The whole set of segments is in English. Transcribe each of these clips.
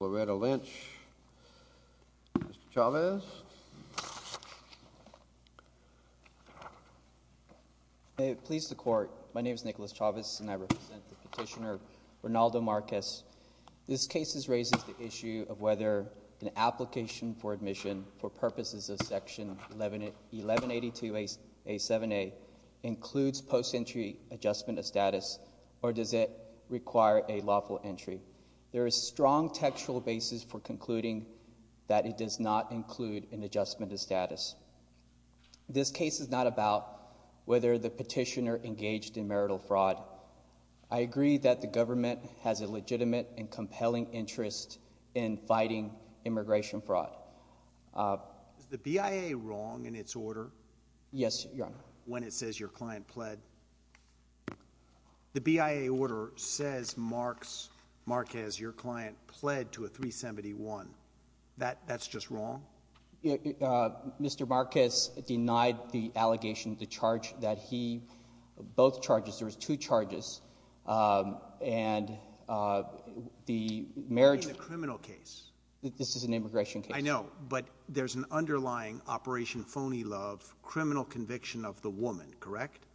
Loretta Lynch. Mr. Chavez. Please the court. My name is Nicholas Chavez, and I represent the petitioner, Rinaldo Marques. This case raises the issue of whether an application for admission for purposes of section 11, 11 82 a 7 a includes post entry adjustment of status, or does it require a lawful entry? There is strong textual basis for concluding that it does not include an adjustment of status. This case is not about whether the petitioner engaged in marital fraud. I agree that the government has a legitimate and compelling interest in fighting immigration fraud. Uh, the B I A wrong in its order. Yes, Your Honor. When it says your client pled the B I A order says Marks Marquez, your client pled to a 3 71. That that's just wrong. Uh, Mr Marquez denied the allegation to charge that he both charges. There's two charges. Um, and, uh, the marriage criminal case. This is an immigration. I know, but there's an underlying Operation Phony Love criminal conviction of the woman, correct?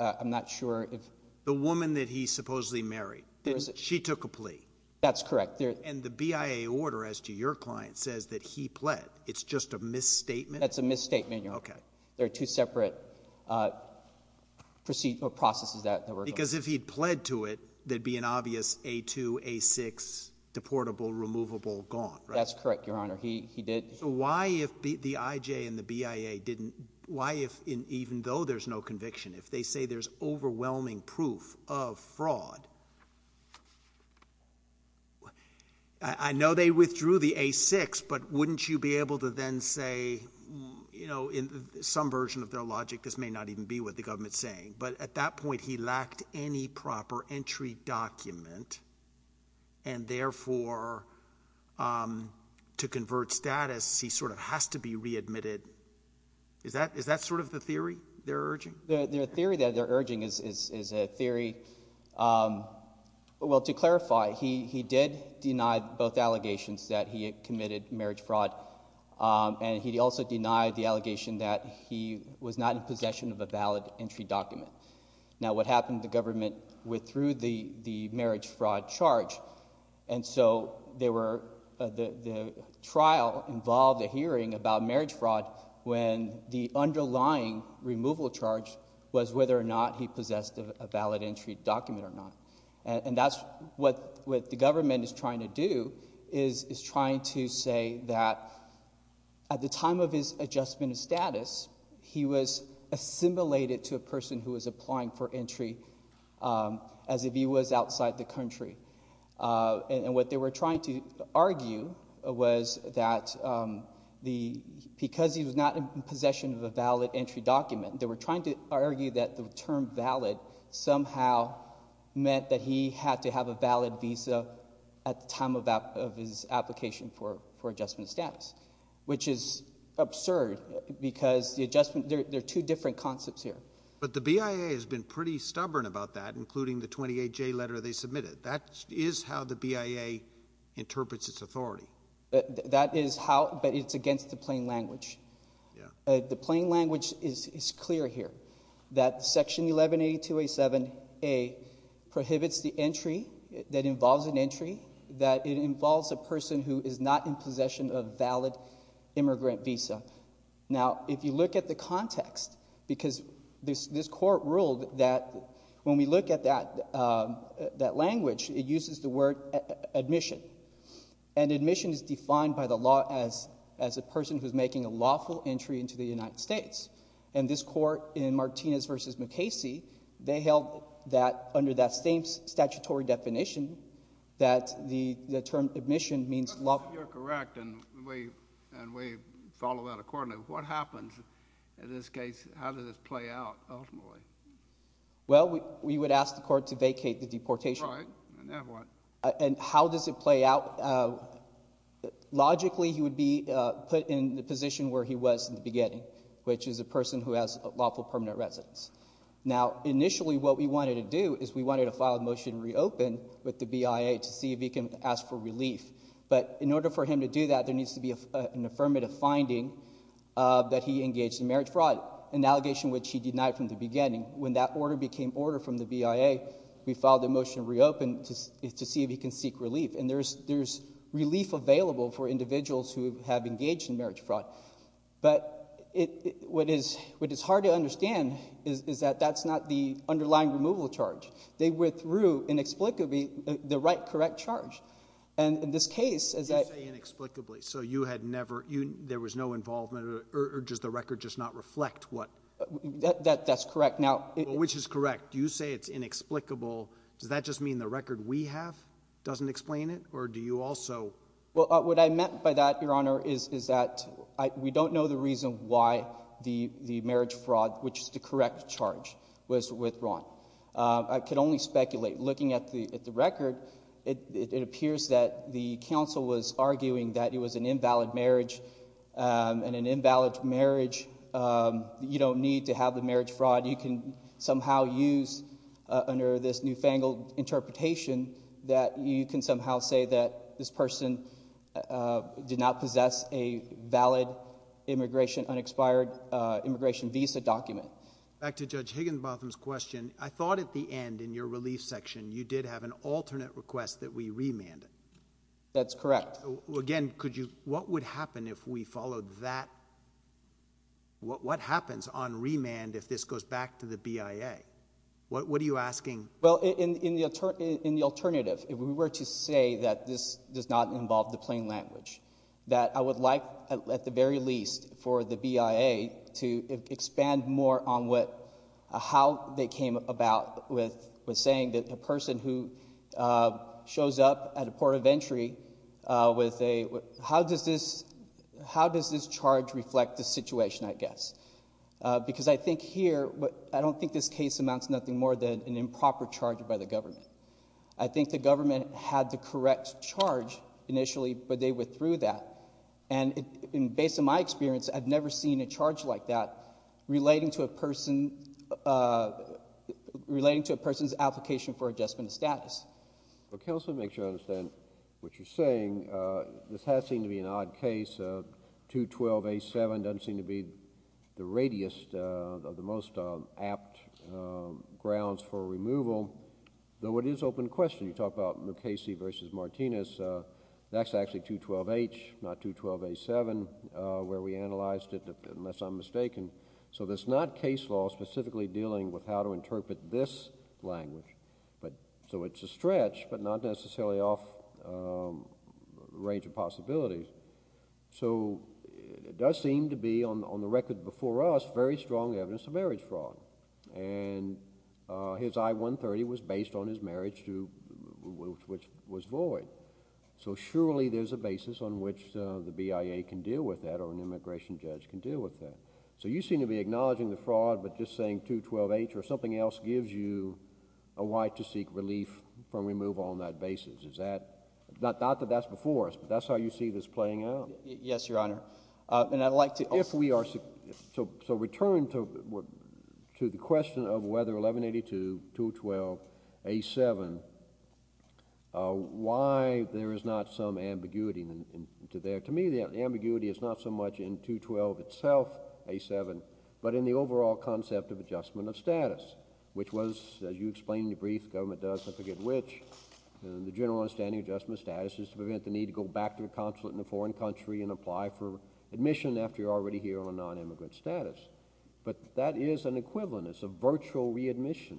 I'm not sure if the woman that he supposedly married, she took a plea. That's correct. And the B I A order as to your client says that he pled. It's just a misstatement. That's a misstatement. You're okay. There are two separate, uh, proceed processes that because if he pled to it, there'd be an obvious a two a six deportable, removable gone. That's correct, Your Honor. But if the B I A and the B I A didn't, why, if even though there's no conviction, if they say there's overwhelming proof of fraud, I know they withdrew the a six. But wouldn't you be able to then say, you know, in some version of their logic, this may not even be what the government's saying. But at that point, he lacked any proper entry document. And therefore, um, to convert status, he sort of has to be readmitted. Is that is that sort of the theory they're urging? The theory that they're urging is a theory. Um, well, to clarify, he did deny both allegations that he committed marriage fraud. Um, and he also denied the allegation that he was not in possession of a valid entry document. Now, what happened? The marriage fraud charge. And so they were the trial involved a hearing about marriage fraud when the underlying removal charge was whether or not he possessed a valid entry document or not. And that's what with the government is trying to do is trying to say that at the time of his adjustment of status, he was assimilated to a person who was applying for entry. Um, as if he was outside the country. Uh, and what they were trying to argue was that, um, the because he was not in possession of a valid entry document, they were trying to argue that the term valid somehow meant that he had to have a valid visa at the time of his application for adjustment status, which is absurd because the adjustment, there are two different concepts here. But the BIA has pretty stubborn about that, including the 28 J letter they submitted. That is how the BIA interprets its authority. That is how, but it's against the plain language. The plain language is clear here that section 11 82 87 a prohibits the entry that involves an entry that it involves a person who is not in possession of valid immigrant visa. Now, if you look at the context, because this, this court ruled that when we look at that, um, that language, it uses the word admission and admission is defined by the law as, as a person who is making a lawful entry into the United States. And this court in Martinez versus McCasey, they held that under that same statutory definition that the term admission means lawful. You're correct. And we, and we follow that accordingly. What happens in this case? How did this play out ultimately? Well, we, we would ask the court to vacate the deportation. And how does it play out? Uh, logically, he would be put in the position where he was in the beginning, which is a person who has a lawful permanent residence. Now, initially, what we wanted to do is we wanted to file a motion reopen with the BIA to see if he can ask for relief. But in order for him to do that, there was an allegation, uh, that he engaged in marriage fraud, an allegation which he denied from the beginning. When that order became order from the BIA, we filed a motion to reopen to see if he can seek relief. And there's, there's relief available for individuals who have engaged in marriage fraud. But what is, what is hard to understand is, is that that's not the underlying removal charge. They withdrew inexplicably the right, correct charge. And in this case, as I inexplicably, so you had never, there was no involvement or just the record. Just not reflect what that that's correct. Now, which is correct. You say it's inexplicable. Does that just mean the record we have doesn't explain it? Or do you also? Well, what I meant by that, Your Honor, is, is that we don't know the reason why the marriage fraud, which is the correct charge, was withdrawn. I could only speculate looking at the record. It was arguing that it was an invalid marriage and an invalid marriage. You don't need to have the marriage fraud. You can somehow use under this newfangled interpretation that you can somehow say that this person did not possess a valid immigration, unexpired immigration visa document. Back to Judge Higginbotham's question. I thought at the end in your relief section, you did have an alternate request that we remanded. That's correct. Again, could you, what would happen if we followed that? What happens on remand if this goes back to the BIA? What are you asking? Well, in the alternative, if we were to say that this does not involve the plain language, that I would like, at the very least, for the BIA to expand more on what, how they came about with saying that a person who shows up at a port of entry with a, how does this, how does this charge reflect the situation, I guess? Because I think here, but I don't think this case amounts to nothing more than an improper charge by the government. I think the government had the correct charge initially, but they withdrew that. And based on my experience, I've never seen a charge like that relating to a person, relating to a person's application for adjustment of status. Well, counsel, make sure I understand what you're saying. This has seemed to be an odd case. 212A7 doesn't seem to be the radiest of the most apt grounds for removal, though it is open to question. You talk about Mukasey versus Martinez. That's actually 212H, not 212A7, where we analyzed it, unless I'm mistaken. So there's not case law specifically dealing with how to interpret this language, but, so it's a stretch, but not necessarily off range of possibilities. So it does seem to be, on the record before us, very strong evidence of marriage fraud. And his I-130 was based on his marriage to, which was void. So surely there's a basis on which the BIA can deal with that, or an alternative. So you seem to be acknowledging the fraud, but just saying 212H or something else gives you a why to seek relief from removal on that basis. Is that, not that that's before us, but that's how you see this playing out. Yes, Your Honor. And I'd like to also... If we are, so return to the question of whether 1182, 212A7, why there is not some ambiguity to there. To me, the ambiguity is not so much in 212 itself, A7, but in the overall concept of adjustment of status, which was, as you explained in your brief, the government does, I forget which, the general understanding of adjustment of status is to prevent the need to go back to a consulate in a foreign country and apply for admission after you're already here on non-immigrant status. But that is an equivalent, it's a virtual readmission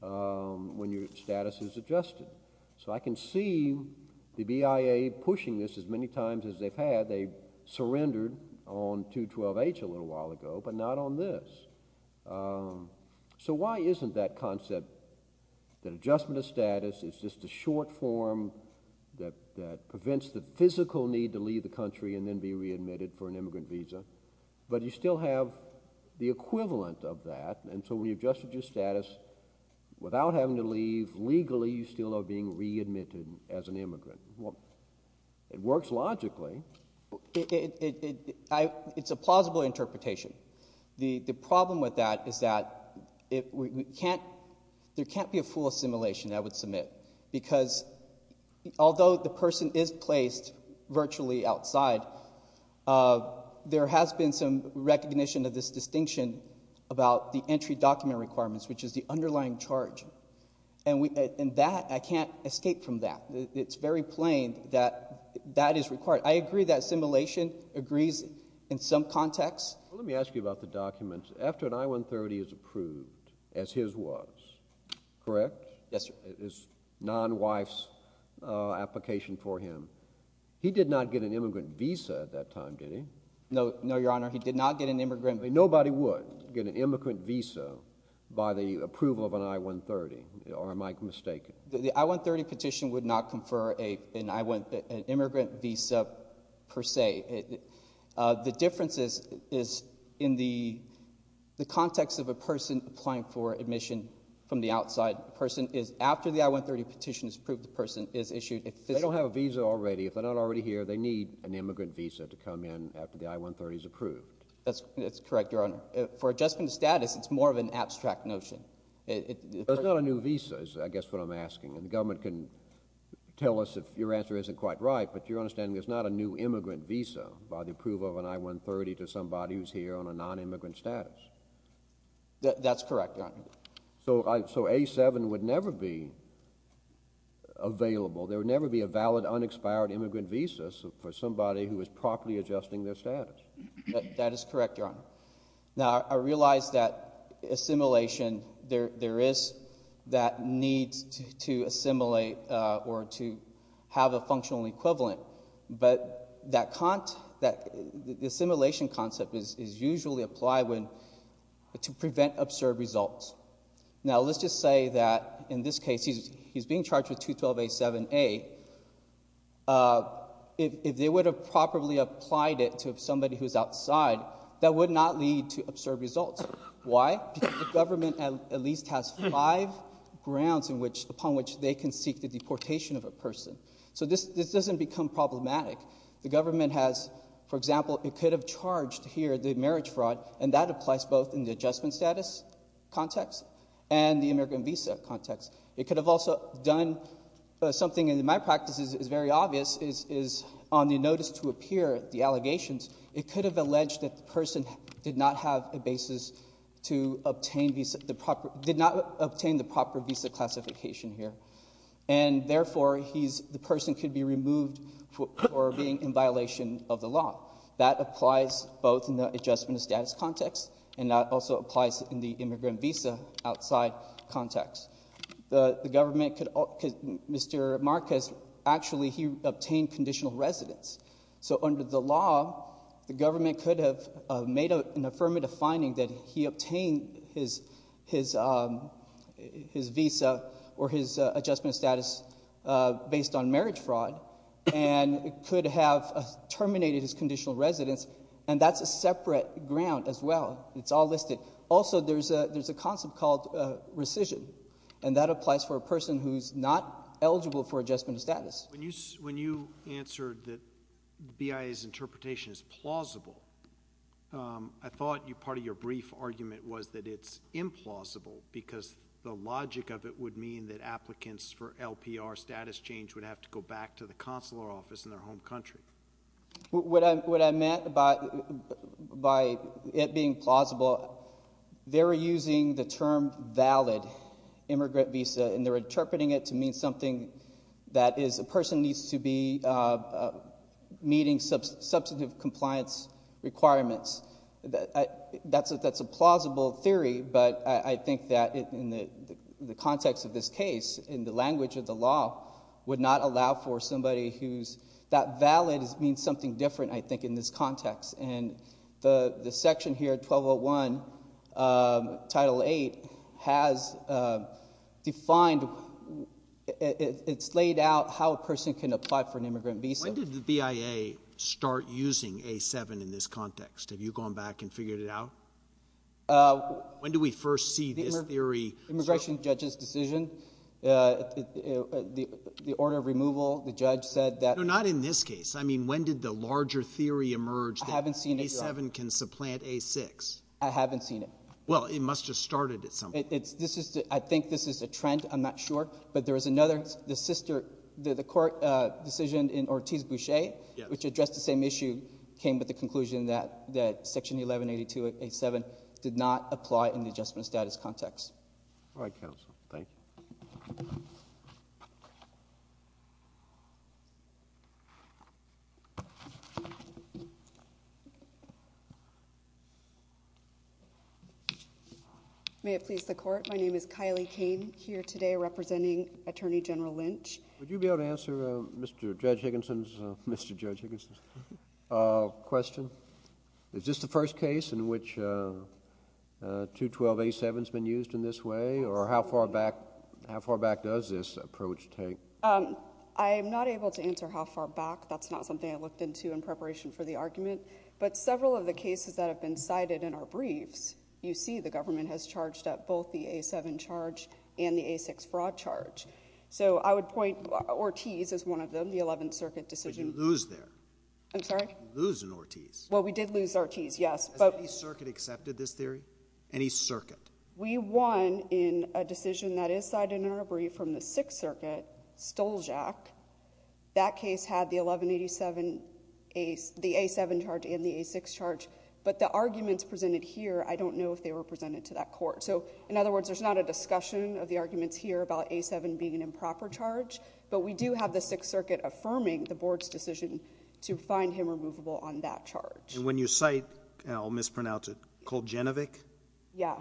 when your status is adjusted. So I can see the BIA pushing this as many times as they've had. They surrendered on 212H a little while ago, but not on this. So why isn't that concept that adjustment of status is just a short form that prevents the physical need to leave the country and then be readmitted for an immigrant visa, but you still have the equivalent of that. And so when you've adjusted your status without having to leave, legally you still are being readmitted as an immigrant. It works logically. It's a plausible interpretation. The problem with that is that there can't be a full assimilation, I would submit, because although the person is placed virtually outside, there has been some recognition of this distinction about the entry document requirements, which is the underlying charge. And that, I can't escape from that. It's very plain that that is required. I agree that assimilation agrees in some context. Let me ask you about the documents. After an I-130 is approved, as his was, correct? Yes, sir. It is non-wife's application for him. He did not get an immigrant visa at that time, did he? No, no, Your Honor. He did not get an immigrant visa. Nobody would get an immigrant visa by the approval of an I-130, or am I mistaken? The I-130 petition would not confer an immigrant visa, per se. The difference is in the context of a person applying for admission from the outside. The person is, after the I-130 petition is approved, the person is issued. They don't have a visa already. If they're not already here, they need an immigrant visa to come in after the I-130 is approved. That's correct, Your Honor. For adjustment of status, it's more of an abstract notion. There's not a new visa, is I guess what I'm asking. And the government can tell us if your answer isn't quite right, but your understanding there's not a new immigrant visa by the approval of an I-130 to somebody who's here on a non-immigrant status. That's correct, Your Honor. So A-7 would never be available. There would never be a valid unexpired immigrant visa for somebody who is properly adjusting their status. That is correct, Your Honor. Now, I realize that assimilation, there is that need to assimilate or to have a functional equivalent, but that assimilation concept is usually applied to prevent absurd results. Now, let's just say that in this case, he's being charged with 212-A-7-A. If they would have properly applied it to somebody who's outside, that would not lead to absurd results. Why? Because the government at least has five grounds upon which they can seek the deportation of a person. So this doesn't become problematic. The government has, for example, it could have charged here the marriage fraud, and that applies both in the adjustment status context and the immigrant visa context. It could have also done something in my practice is very obvious, is on the notice to appear, the allegations, it could have alleged that the person did not have a basis to obtain the proper, did not obtain the proper visa classification here. And therefore, he's, the person could be removed for being in violation of the law. That applies both in the adjustment of status context and that also applies in the immigrant visa outside context. The government could, Mr. Marquez, actually he obtained conditional residence. So under the law, the government could have made an affirmative finding that he obtained his visa or his adjustment status based on marriage fraud and could have terminated his conditional residence, and that's a separate ground as well. It's all listed. Also, there's a, there's a concept called rescission, and that applies for a person who's not eligible for adjustment status. When you, when you answered that BIA's interpretation is plausible, I thought you, part of your brief argument was that it's implausible because the logic of it would mean that applicants for LPR status change would have to go back to the consular office in their home country. What I, what I meant by, by it being plausible, they're using the term valid immigrant visa, and they're interpreting it to mean something that is a person needs to be meeting substantive compliance requirements. That's a, that's a plausible theory, but I, I think that in the, the context of this case, in the BIA does mean something different, I think, in this context, and the, the section here, 1201, Title VIII, has defined, it's laid out how a person can apply for an immigrant visa. When did the BIA start using A7 in this context? Have you gone back and figured it out? Uh. When do we first see this theory? Immigration judge's decision, the order of removal, the judge said that... No, not in this case. I mean, when did the larger theory emerge that A7 can supplant A6? I haven't seen it. Well, it must have started at some point. It's, this is, I think this is a trend, I'm not sure, but there is another, the sister, the court decision in Ortiz-Boucher... Yes.... which addressed the same issue, came with the conclusion that, that section 1182 of A7 did not apply in the adjustment status context. All right, counsel. Thank you. May it please the Court, my name is Kylie Kane here today representing Attorney General Lynch. Would you be able to answer Mr. Judge Higginson's, Mr. Judge Higginson's question? Is this the first case in which 212A7 has been used in this way, or how far back, how far back does this approach take? I am not able to answer how far back. That's not something I looked into in preparation for the argument. But several of the cases that have been cited in our briefs, you see the government has charged up both the A7 charge and the A6 fraud charge. So I would point, Ortiz is one of them, the Eleventh Circuit decision... But you lose there. I'm sorry? You lose in Ortiz. Well, we did lose Ortiz, yes, but... Has any circuit accepted this theory? Any circuit? We won in a decision that is cited in our brief from the Sixth Circuit, Stolzak. That case had the 1187, the A7 charge and the A6 charge. But the arguments presented here, I don't know if they were presented to that court. So, in other words, there's not a discussion of the arguments here about A7 being an improper charge. But we do have the Sixth Circuit affirming the board's decision to find him removable on that charge. When you cite, and I'll mispronounce it, Kuljinovic... Yeah.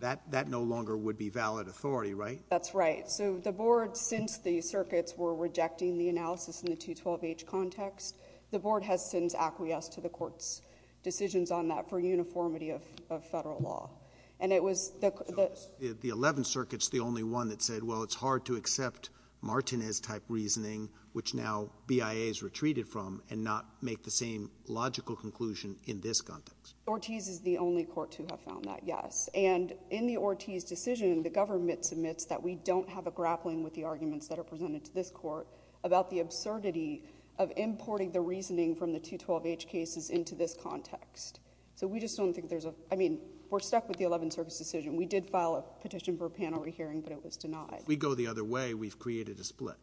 That no longer would be valid authority, right? That's right. So the board, since the circuits were rejecting the analysis in the 212H context, the board has since acquiesced to the court's decisions on that for uniformity of federal law. And it was... The Eleventh Circuit's the only one that said, well, it's hard to accept Martinez-type reasoning, which now BIA's retreated from and not make the same logical conclusion in this context. Ortiz is the only court to have found that, yes. And in the Ortiz decision, the government submits that we don't have a grappling with the arguments that are presented to this court about the absurdity of importing the reasoning from the 212H cases into this context. So we just don't think there's a... I mean, we're stuck with the Eleventh Circuit's decision. We did file a petition for a panel re-hearing, but it was denied. If we go the other way, we've created a split.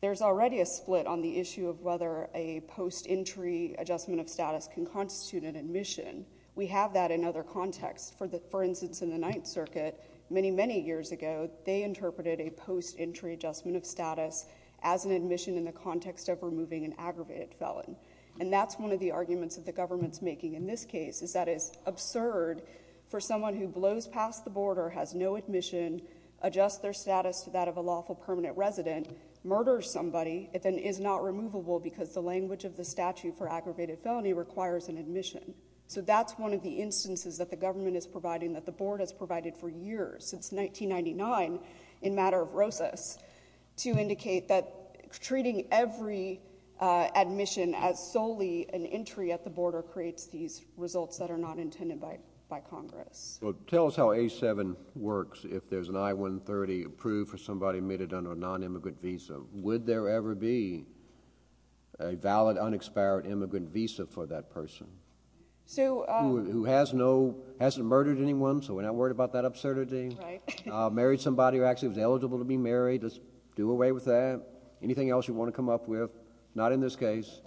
There's already a split on the issue of whether a post-entry adjustment of status can constitute an admission. We have that in other contexts. For instance, in the Ninth Circuit, many, many years ago, they interpreted a post-entry adjustment of status as an admission in the context of removing an aggravated felon. And that's one of the arguments that the government's making in this case, is that it's absurd for someone who blows past the border, has no admission, adjusts their status to that of a lawful permanent resident, murders somebody, and then is not removable because the language of the statute for aggravated felony requires an admission. So that's one of the instances that the government is providing that the board has provided for years, since 1999, in matter of Rosas, to indicate that treating every admission as solely an entry at the border creates these results that are not intended by Congress. Well, tell us how A7 works, if there's an I-130 approved for somebody admitted under a non-immigrant visa. Would there ever be a valid, unexpired immigrant visa for that person who hasn't murdered anyone, so we're not worried about that absurdity? Married somebody who actually was eligible to be married, let's do away with that. Anything else you want to come up with? Not in this case.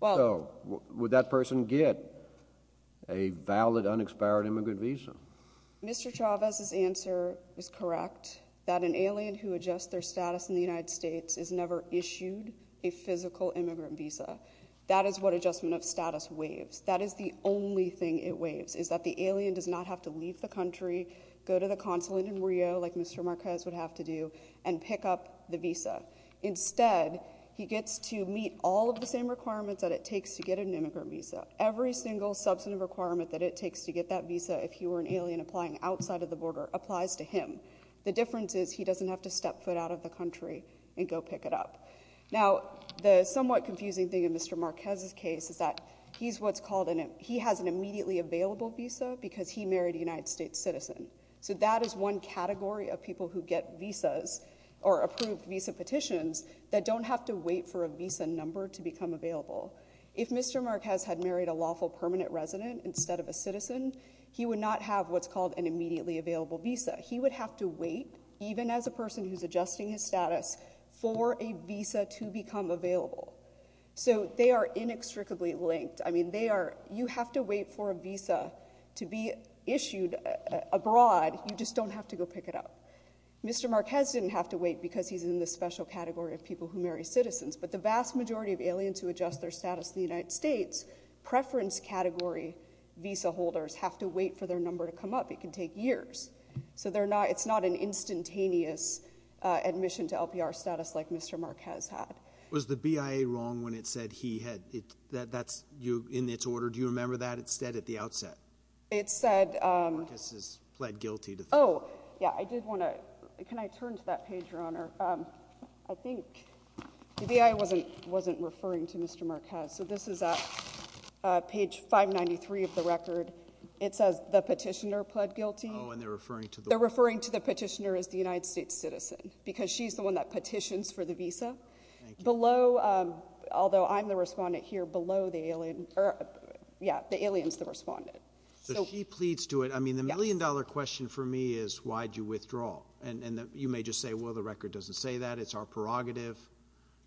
So, would that person get a valid, unexpired immigrant visa? Mr. Chavez's answer is correct, that an alien who adjusts their status in the United States is never issued a physical immigrant visa. That is what adjustment of status waives. That is the only thing it waives, is that the alien does not have to leave the country, go to the consulate in Rio, like Mr. Marquez would have to do, and pick up the visa. Instead, he gets to meet all of the same requirements that it takes to get an visa if he were an alien applying outside of the border applies to him. The difference is he doesn't have to step foot out of the country and go pick it up. Now, the somewhat confusing thing in Mr. Marquez's case is that he's what's called, and he has an immediately available visa because he married a United States citizen. So, that is one category of people who get visas or approved visa petitions that don't have to wait for a visa number to become available. If Mr. Marquez had married a lawful permanent resident instead of a citizen, he would not have what's called an immediately available visa. He would have to wait, even as a person who's adjusting his status, for a visa to become available. So, they are inextricably linked. I mean, they are, you have to wait for a visa to be issued abroad. You just don't have to go pick it up. Mr. Marquez didn't have to wait because he's in the special category of people who marry citizens, but the vast majority of aliens who adjust their visa holders have to wait for their number to come up. It can take years. So, they're not, it's not an instantaneous admission to LPR status like Mr. Marquez had. Was the BIA wrong when it said he had, that's, you, in its order, do you remember that instead at the outset? It said... Marquez has pled guilty to... Oh, yeah, I did want to, can I turn to that page, Your Honor? I think the BIA wasn't, wasn't referring to Mr. Marquez. So, this is at page 593 of the record. It says the petitioner pled guilty. Oh, and they're referring to the... They're referring to the petitioner as the United States citizen because she's the one that petitions for the visa. Below, although I'm the respondent here, below the alien, or, yeah, the alien's the respondent. So, she pleads to it. I mean, the million-dollar question for me is, why'd you withdraw? And, and you may just say, well, the record doesn't say that. It's our prerogative.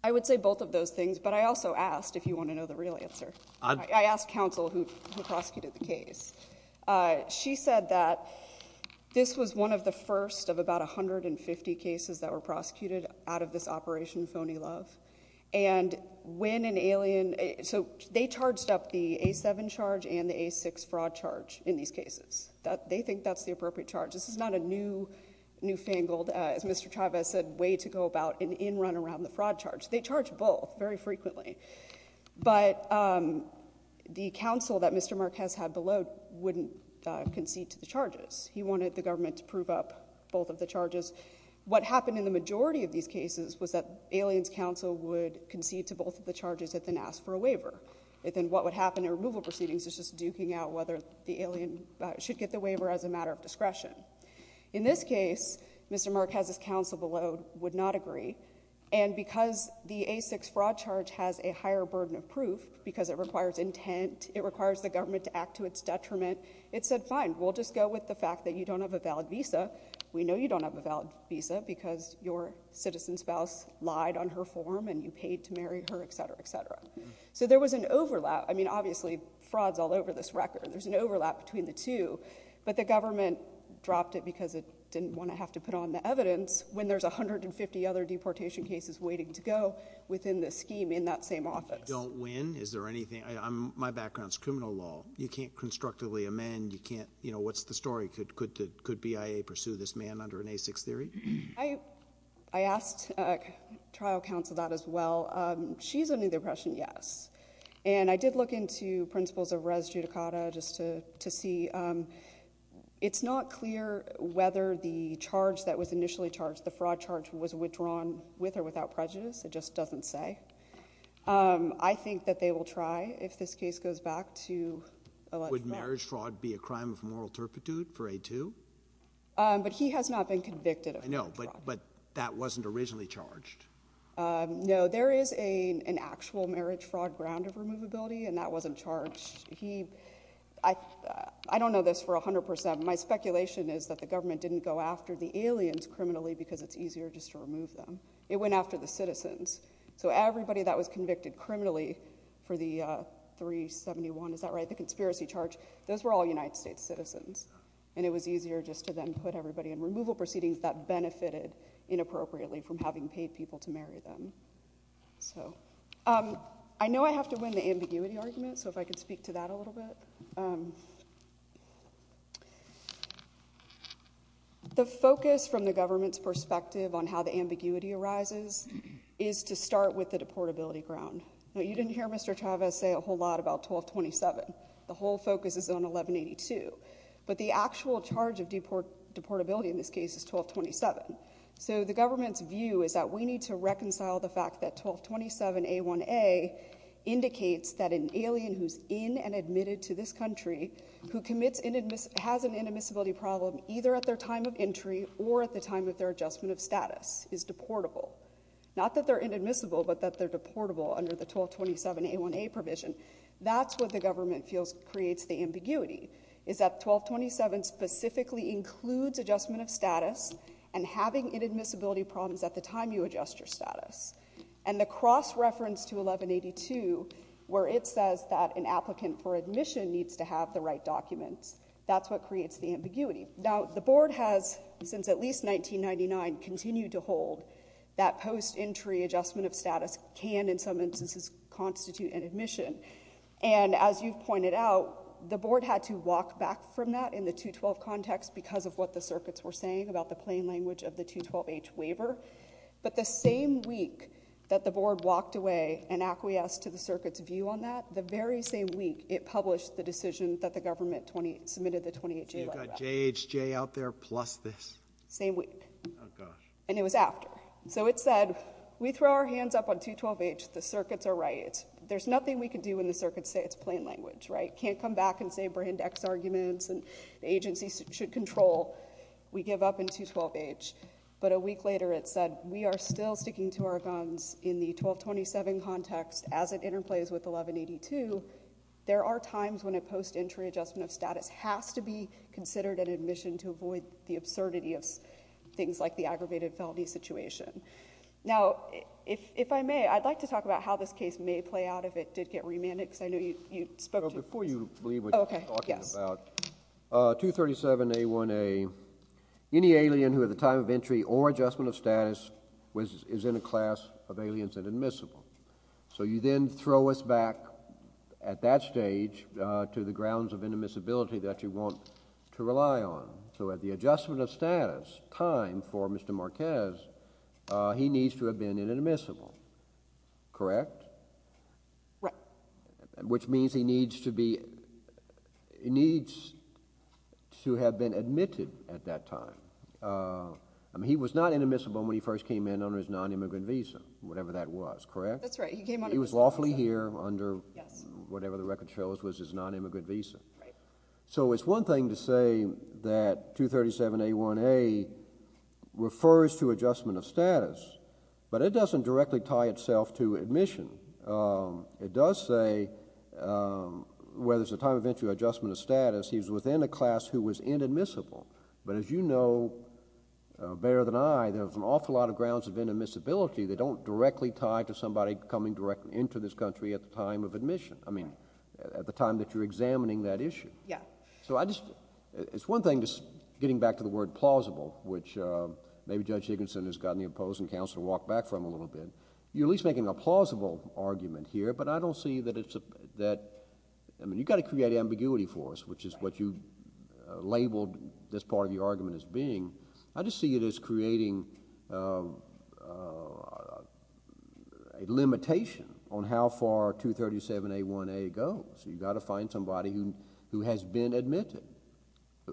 I would say both of those things, but I also asked, if you want to know the real answer, I asked counsel who prosecuted the case. She said that this was one of the first of about a hundred and fifty cases that were prosecuted out of this Operation Phony Love, and when an alien... So, they charged up the A7 charge and the A6 fraud charge in these cases. That, they think that's the appropriate charge. This is not a new, newfangled, as Mr. Chavez said, way to go about an in-run around the fraud charge. They charge both very frequently, but the counsel that Mr. Marquez had below wouldn't concede to the charges. He wanted the government to prove up both of the charges. What happened in the majority of these cases was that aliens counsel would concede to both of the charges and then ask for a waiver, and then what would happen in removal proceedings is just duking out whether the alien should get the waiver as a matter of discretion. In this case, Mr. Marquez's counsel below would not agree, and because the A6 fraud charge has a higher burden of proof, because it requires intent, it requires the government to act to its detriment, it said, fine, we'll just go with the fact that you don't have a valid visa. We know you don't have a valid visa because your citizen spouse lied on her form and you paid to marry her, etc., etc. So, there was an overlap. I mean, obviously, fraud's all over this record. There's an overlap between the two, but the government dropped it because it didn't want to have to put on the evidence when there's a hundred and fifty other deportation cases waiting to go within the scheme in that same office. If you don't win, is there anything? My background is criminal law. You can't constructively amend. You can't, you know, what's the story? Could BIA pursue this man under an A6 theory? I asked trial counsel that as well. She's of the opinion, yes. And I did look into principles of res judicata just to, to see. It's not clear whether the charge that was initially charged, the fraud charge, was withdrawn with or without prejudice. It just doesn't say. I think that they will try if this case goes back to election day. Would marriage fraud be a crime of moral turpitude for A2? But he has not been convicted of marriage fraud. No, but that wasn't originally charged. No, there is an actual marriage fraud ground of removability, and that wasn't charged. He, I, I don't know this for a hundred percent. My speculation is that the government didn't go after the aliens criminally because it's easier just to remove them. It went after the citizens. So everybody that was convicted criminally for the 371, is that right, the conspiracy charge, those were all United States citizens. And it was easier just to then put everybody in removal proceedings that benefited inappropriately from having paid people to marry them. So, I know I have to win the ambiguity argument, so if I could speak to that a little bit. The focus from the government's perspective on how the ambiguity arises is to start with the deportability ground. You didn't hear Mr. Chavez say a whole lot about 1227. The whole focus is on 1182. But the actual charge of deport, deportability in this case is 1227. So the government's view is that we need to reconcile the fact that 1227A1A indicates that an alien who's in and admitted to this country, who commits inadmiss, has an inadmissibility problem, either at their time of entry or at the time of their adjustment of status, is deportable. Not that they're inadmissible, but that they're deportable under the 1227A1A provision. That's what the government's view is, is that 1227 specifically includes adjustment of status and having inadmissibility problems at the time you adjust your status. And the cross-reference to 1182, where it says that an applicant for admission needs to have the right documents, that's what creates the ambiguity. Now, the board has, since at least 1999, continued to hold that post entry adjustment of status can, in some instances, constitute an admission. And as you've pointed out, the board had to walk back from that in the 212 context because of what the circuits were saying about the plain language of the 212H waiver. But the same week that the board walked away and acquiesced to the circuit's view on that, the very same week it published the decision that the government 20, submitted the 28J like that. You've got JHJ out there plus this. Same week. And it was after. So it said, we throw our hands up on 212H, the circuits are right. There's nothing we can do when the circuits say it's plain language, right? Can't come back and say brand X arguments and agencies should control. We give up in 212H. But a week later it said, we are still sticking to our guns in the 1227 context as it interplays with 1182. There are times when a post entry adjustment of status has to be considered an admission to avoid the absurdity of things like the aggravated felony situation. Now, if I may, I'd like to talk about how this case may play out if it did get remanded because I know you spoke to... Well, before you leave, we're talking about 237A1A. Any alien who at the time of entry or adjustment of status is in a class of aliens and admissible. So you then throw us back at that stage to the grounds of indemissibility that you want to rely on. So at the adjustment of status time for Mr. Marquez, he needs to have been inadmissible, correct? Right. Which means he needs to be... he needs to have been admitted at that time. I mean, he was not inadmissible when he first came in under his non-immigrant visa, whatever that was, correct? That's right. He was lawfully here under whatever the record shows was his non-immigrant visa. So it's one thing to say that 237A1A refers to adjustment of status, but it doesn't directly tie itself to admission. It does say where there's a time of entry or adjustment of status, he was within a class who was inadmissible. But as you know better than I, there's an awful lot of grounds of inadmissibility that don't directly tie to somebody coming directly into this country at the time of admission. It's one thing just getting back to the word plausible, which maybe Judge Higginson has gotten the opposing counsel to walk back from a little bit. You're at least making a plausible argument here, but I don't see that it's... I mean, you got to create ambiguity for us, which is what you labeled this part of your argument as being. I just see it as creating a limitation on how far 237A1A goes. You've got to find somebody who has been admitted,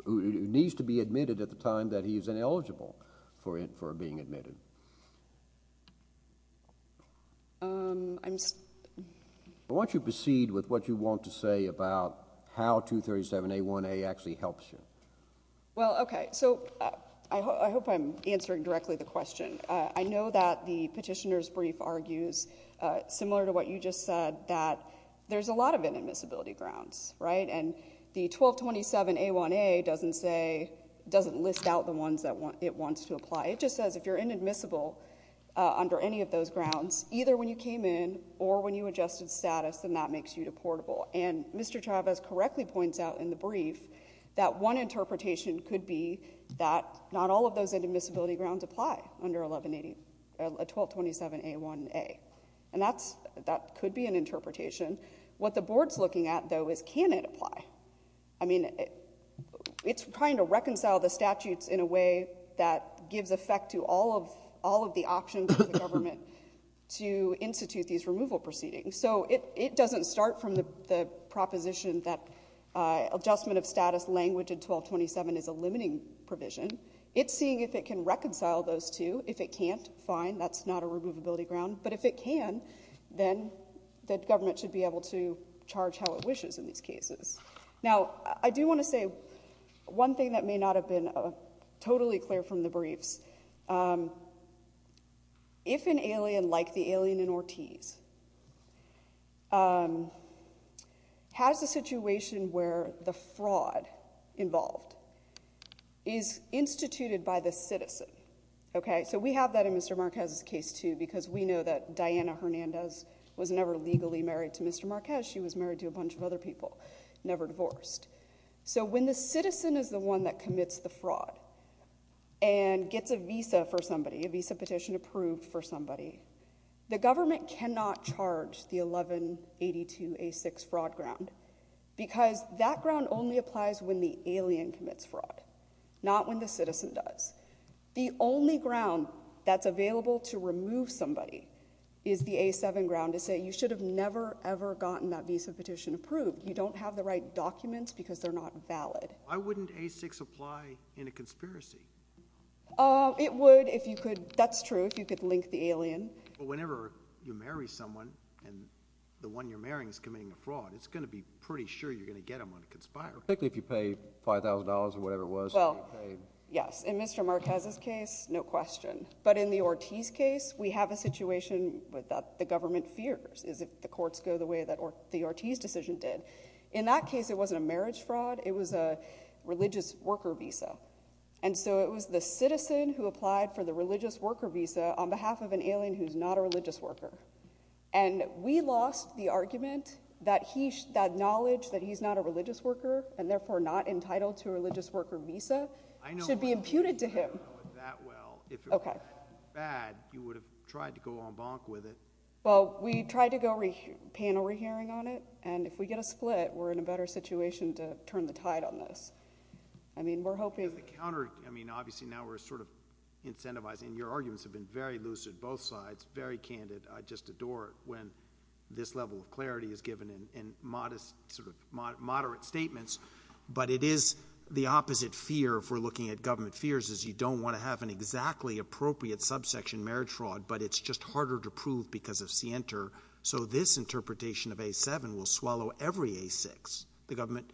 who needs to be admitted at the time that he is ineligible for being admitted. I want you to proceed with what you want to say about how 237A1A actually helps you. Well, okay. So I hope I'm answering directly the question. I know that the attorney just said that there's a lot of inadmissibility grounds, right? And the 1227A1A doesn't list out the ones that it wants to apply. It just says if you're inadmissible under any of those grounds, either when you came in or when you adjusted status, then that makes you deportable. And Mr. Chavez correctly points out in the brief that one interpretation could be that not all of those could be an interpretation. What the board's looking at, though, is can it apply? I mean, it's trying to reconcile the statutes in a way that gives effect to all of the options for the government to institute these removal proceedings. So it doesn't start from the proposition that adjustment of status language in 1227 is a limiting provision. It's seeing if it can reconcile those two. If it can't, fine, that's not a removability ground. But if it can, then the government should be able to charge how it wishes in these cases. Now, I do want to say one thing that may not have been totally clear from the briefs. If an alien like the alien in Ortiz has a situation where the fraud involved is instituted by the citizen, okay? So we have that in Mr. Marquez's case, too, because we know that Diana Hernandez was never legally married to Mr. Marquez. She was married to a bunch of other people, never divorced. So when the citizen is the one that commits the fraud and gets a visa for somebody, a visa petition approved for somebody, the government cannot charge the 1182A6 fraud ground because that ground only applies when the alien commits fraud, not when the citizen does. The only ground that's available to remove somebody is the A7 ground to say you should have never, ever gotten that visa petition approved. You don't have the right documents because they're not valid. Why wouldn't A6 apply in a conspiracy? It would if you could, that's true, if you could link the alien. Whenever you marry someone and the one you're marrying is committing a fraud, it's gonna be pretty sure you're gonna get them on a conspiracy. Particularly if you pay $5,000 or whatever it was. Well, yes, in Mr. Marquez's case, no question. But in the Ortiz case, we have a situation that the government fears, is if the courts go the way that the Ortiz decision did. In that case, it wasn't a marriage fraud. It was a religious worker visa. And so it was the citizen who applied for the religious worker visa on behalf of an alien who's not a religious worker. And we lost the argument that he, that knowledge that he's not a religious worker, and therefore not entitled to a religious worker visa, should be imputed to him. If it wasn't that bad, you would have tried to go en banc with it. Well, we tried to go panel re-hearing on it, and if we get a split, we're in a better situation to turn the tide on this. I mean, we're hoping... I mean, obviously now we're sort of incentivizing. Your arguments have been very lucid, both sides, very candid. I just adore it when this level of clarity is in moderate statements. But it is the opposite fear, if we're looking at government fears, is you don't want to have an exactly appropriate subsection marriage fraud, but it's just harder to prove because of scienter. So this interpretation of A7 will swallow every A6. The government,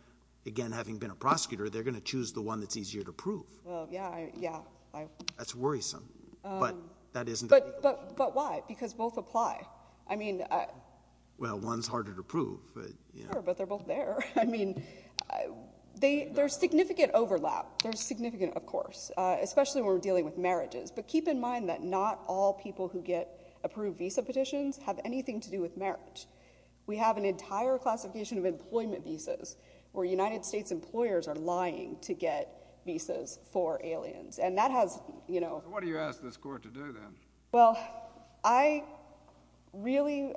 again, having been a prosecutor, they're gonna choose the one that's easier to prove. That's worrisome, but that isn't... But why? Because both apply. I mean... Well, one's both there. I mean, there's significant overlap. There's significant, of course, especially when we're dealing with marriages. But keep in mind that not all people who get approved visa petitions have anything to do with marriage. We have an entire classification of employment visas where United States employers are lying to get visas for aliens, and that has, you know... What do you ask this court to do then? Well, I really,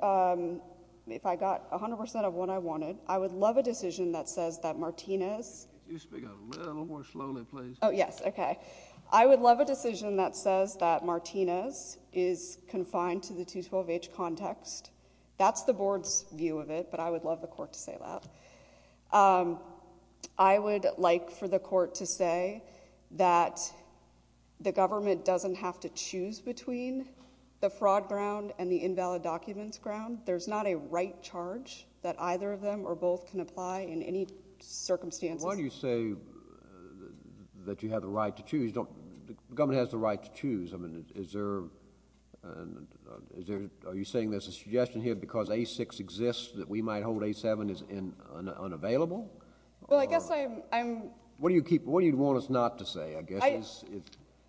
if I got a hundred percent of what I wanted, I would love a decision that says that Martinez... Oh, yes. Okay. I would love a decision that says that Martinez is confined to the 212-H context. That's the board's view of it, but I would love the court to say that. I would like for the court to say that the government doesn't have to choose between the fraud ground and the invalid documents ground. There's not a right charge that either of them or both can apply in any circumstances. Why do you say that you have the right to choose? The government has the right to choose. I mean, is there... Are you saying there's a suggestion here because A-6 exists that we might hold A-7 as unavailable? Well, I guess I'm... What do you keep... What do you want us not to say, I guess?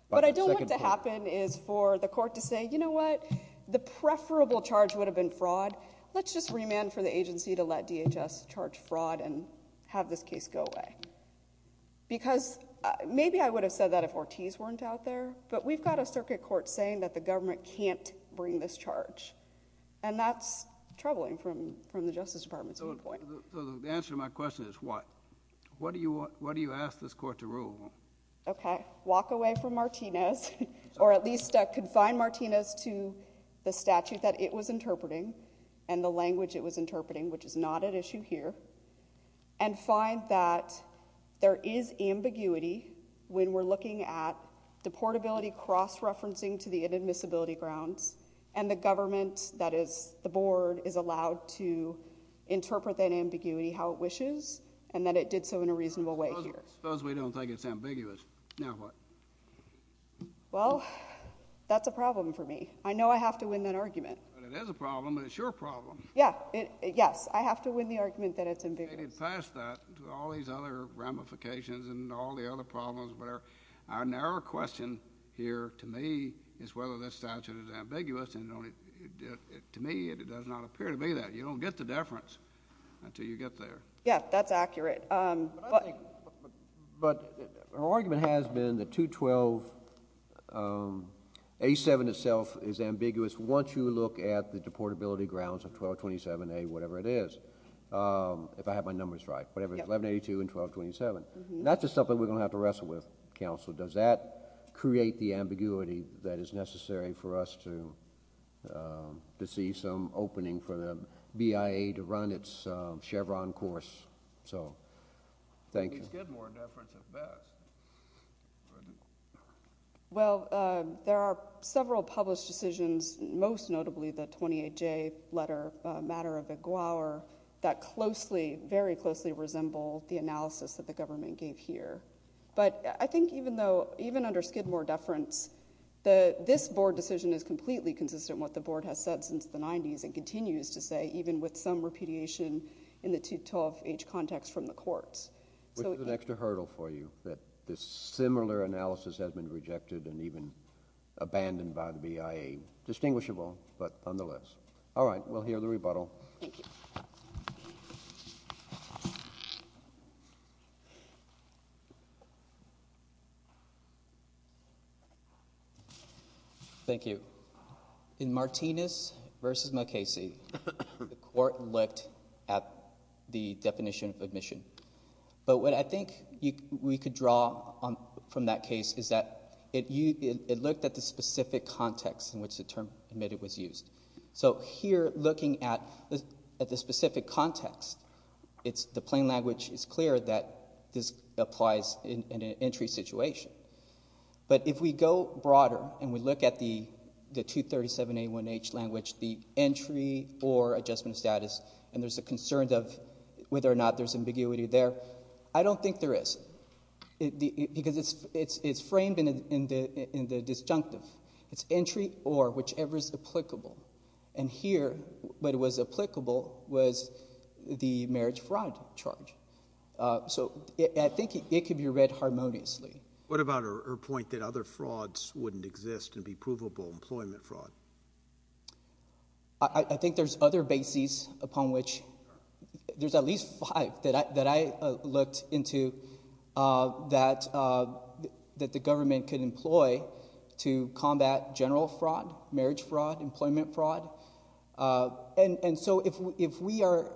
What I don't want to happen is for the court to say, you know what, the preferable charge would have been fraud. Let's just remand for the agency to let DHS charge fraud and have this case go away. Because maybe I would have said that if Ortiz weren't out there, but we've got a circuit court saying that the government can't bring this charge, and that's troubling from the Justice Department's viewpoint. So the answer to my question is what? What do you ask this court to rule? Okay. Walk away from Martinez, or at least confine Martinez to the statute that it was and the language it was interpreting, which is not at issue here, and find that there is ambiguity when we're looking at the portability cross-referencing to the inadmissibility grounds, and the government, that is the board, is allowed to interpret that ambiguity how it wishes, and that it did so in a reasonable way here. Suppose we don't think it's ambiguous. Now what? Well, that's a problem for me. I know I have to win that argument. But it is a problem, and it's your problem. Yeah. Yes. I have to win the argument that it's ambiguous. Past that, to all these other ramifications and all the other problems, but our narrow question here, to me, is whether this statute is ambiguous, and to me, it does not appear to be that. You don't get the deference until you get there. Yeah, that's accurate. But our argument has been that 212A7 itself is of 1227A, whatever it is, if I have my numbers right, whatever, 1182 and 1227. That's just something we're gonna have to wrestle with, counsel. Does that create the ambiguity that is necessary for us to to see some opening for the BIA to run its Chevron course? So, thank you. Well, there are several published decisions, most notably the 28J letter matter of the Gouwar, that closely, very closely, resemble the analysis that the government gave here. But I think even though, even under Skidmore deference, that this board decision is completely consistent with what the board has said since the 90s, and continues to say, even with some repudiation in the 212H context from the courts. Which is an extra hurdle for you, that this similar analysis has been rejected and even abandoned by the BIA. Distinguishable, but nonetheless. All right, we'll hear the rebuttal. Thank you. Thank you. In Martinez v. McCasey, the court looked at the definition of admission. But what I think you we could draw on from that case, is that it looked at the specific context in which the term admitted was used. So here, looking at the specific context, the plain language is clear that this applies in an entry situation. But if we go broader, and we look at the 237A1H language, the entry or adjustment of status, and there's a concern of whether or not there's ambiguity there. I don't think there is. Because it's disjunctive. It's entry or whichever is applicable. And here, what was applicable was the marriage fraud charge. So I think it could be read harmoniously. What about her point that other frauds wouldn't exist and be provable employment fraud? I think there's other bases upon which... there's at least five that I looked into that the government could employ to combat general fraud, marriage fraud, employment fraud. And so, if we are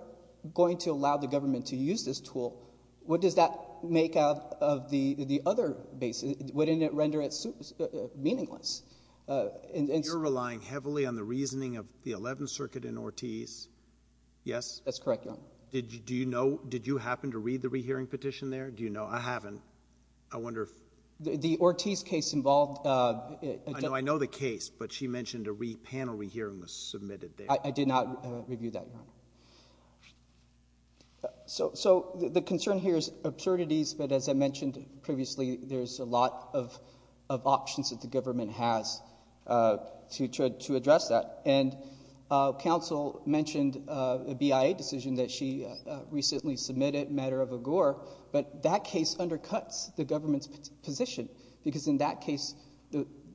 going to allow the government to use this tool, what does that make out of the other bases? Wouldn't it render it meaningless? You're relying heavily on the reasoning of the 11th Circuit in Ortiz, yes? That's correct, Your Honor. Did you happen to read the rehearing petition there? Do you know? I haven't. I wonder if... The Ortiz case involved... I know the case, but she mentioned a panel rehearing was submitted there. I did not review that, Your Honor. So the concern here is absurdities, but as I mentioned previously, there's a lot of options that the government has to address that. And counsel mentioned a BIA decision that she recently submitted, a matter of a gore, but that case undercuts the government's position, because in that case,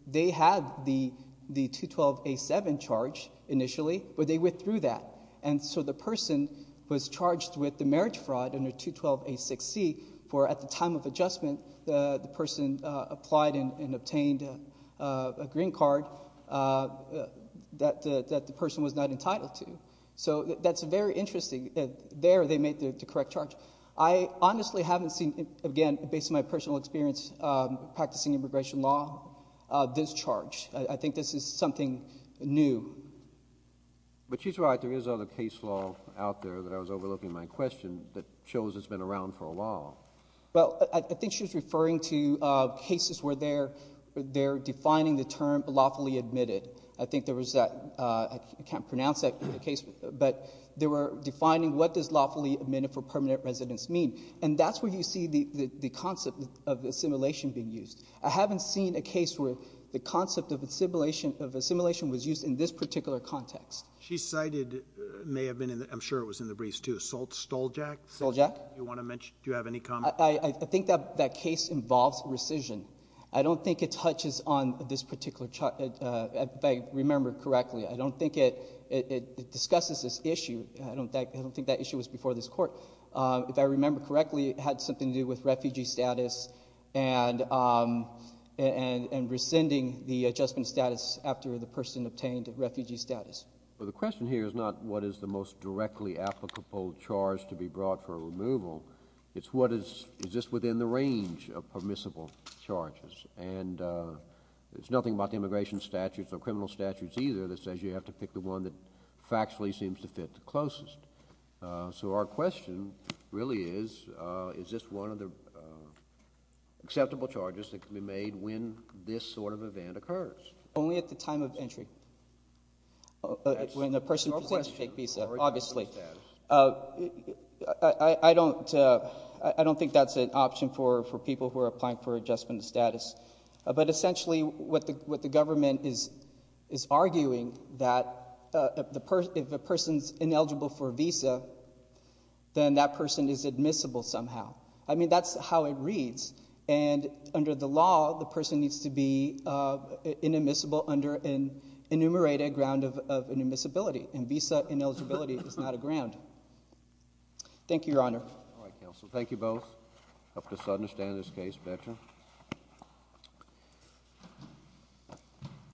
they had the 212A7 charge initially, but they withdrew that. And so the person was charged with the marriage fraud under 212A6C for, at the time of adjustment, the person applied and obtained a green card that the person was not entitled to. So that's a very interesting... there, they made the correct charge. I honestly haven't seen, again, based on my personal experience practicing immigration law, this charge. I think this is something new. But she's right. There is other case law out there that I was overlooking in my question that shows it's been around for a while. Well, I think she was referring to cases where they're defining the term lawfully admitted. I think there was that... I think they were defining what does lawfully admitted for permanent residence mean. And that's where you see the concept of assimilation being used. I haven't seen a case where the concept of assimilation was used in this particular context. She cited... may have been in the... I'm sure it was in the briefs, too. Stoljak? Stoljak. Do you want to mention... do you have any comment? I think that case involves rescission. I don't think it touches on this issue. I don't think that issue was before this court. If I remember correctly, it had something to do with refugee status and rescinding the adjustment status after the person obtained refugee status. Well, the question here is not what is the most directly applicable charge to be brought for removal. It's what is... is this within the range of permissible charges. And it's nothing about the immigration statutes or criminal statutes either that says you have to pick the one that factually seems to fit the request. So our question really is, is this one of the acceptable charges that can be made when this sort of event occurs? Only at the time of entry. When the person presents to take visa, obviously. I don't think that's an option for people who are applying for adjustment status. But essentially what the government is arguing that if a person's ineligible for a visa, then that person is admissible somehow. I mean, that's how it reads. And under the law, the person needs to be inadmissible under an enumerated ground of inadmissibility. And visa ineligibility is not a ground. Thank you, Your Honor. All right, counsel. Thank you both. I hope this understands this case better.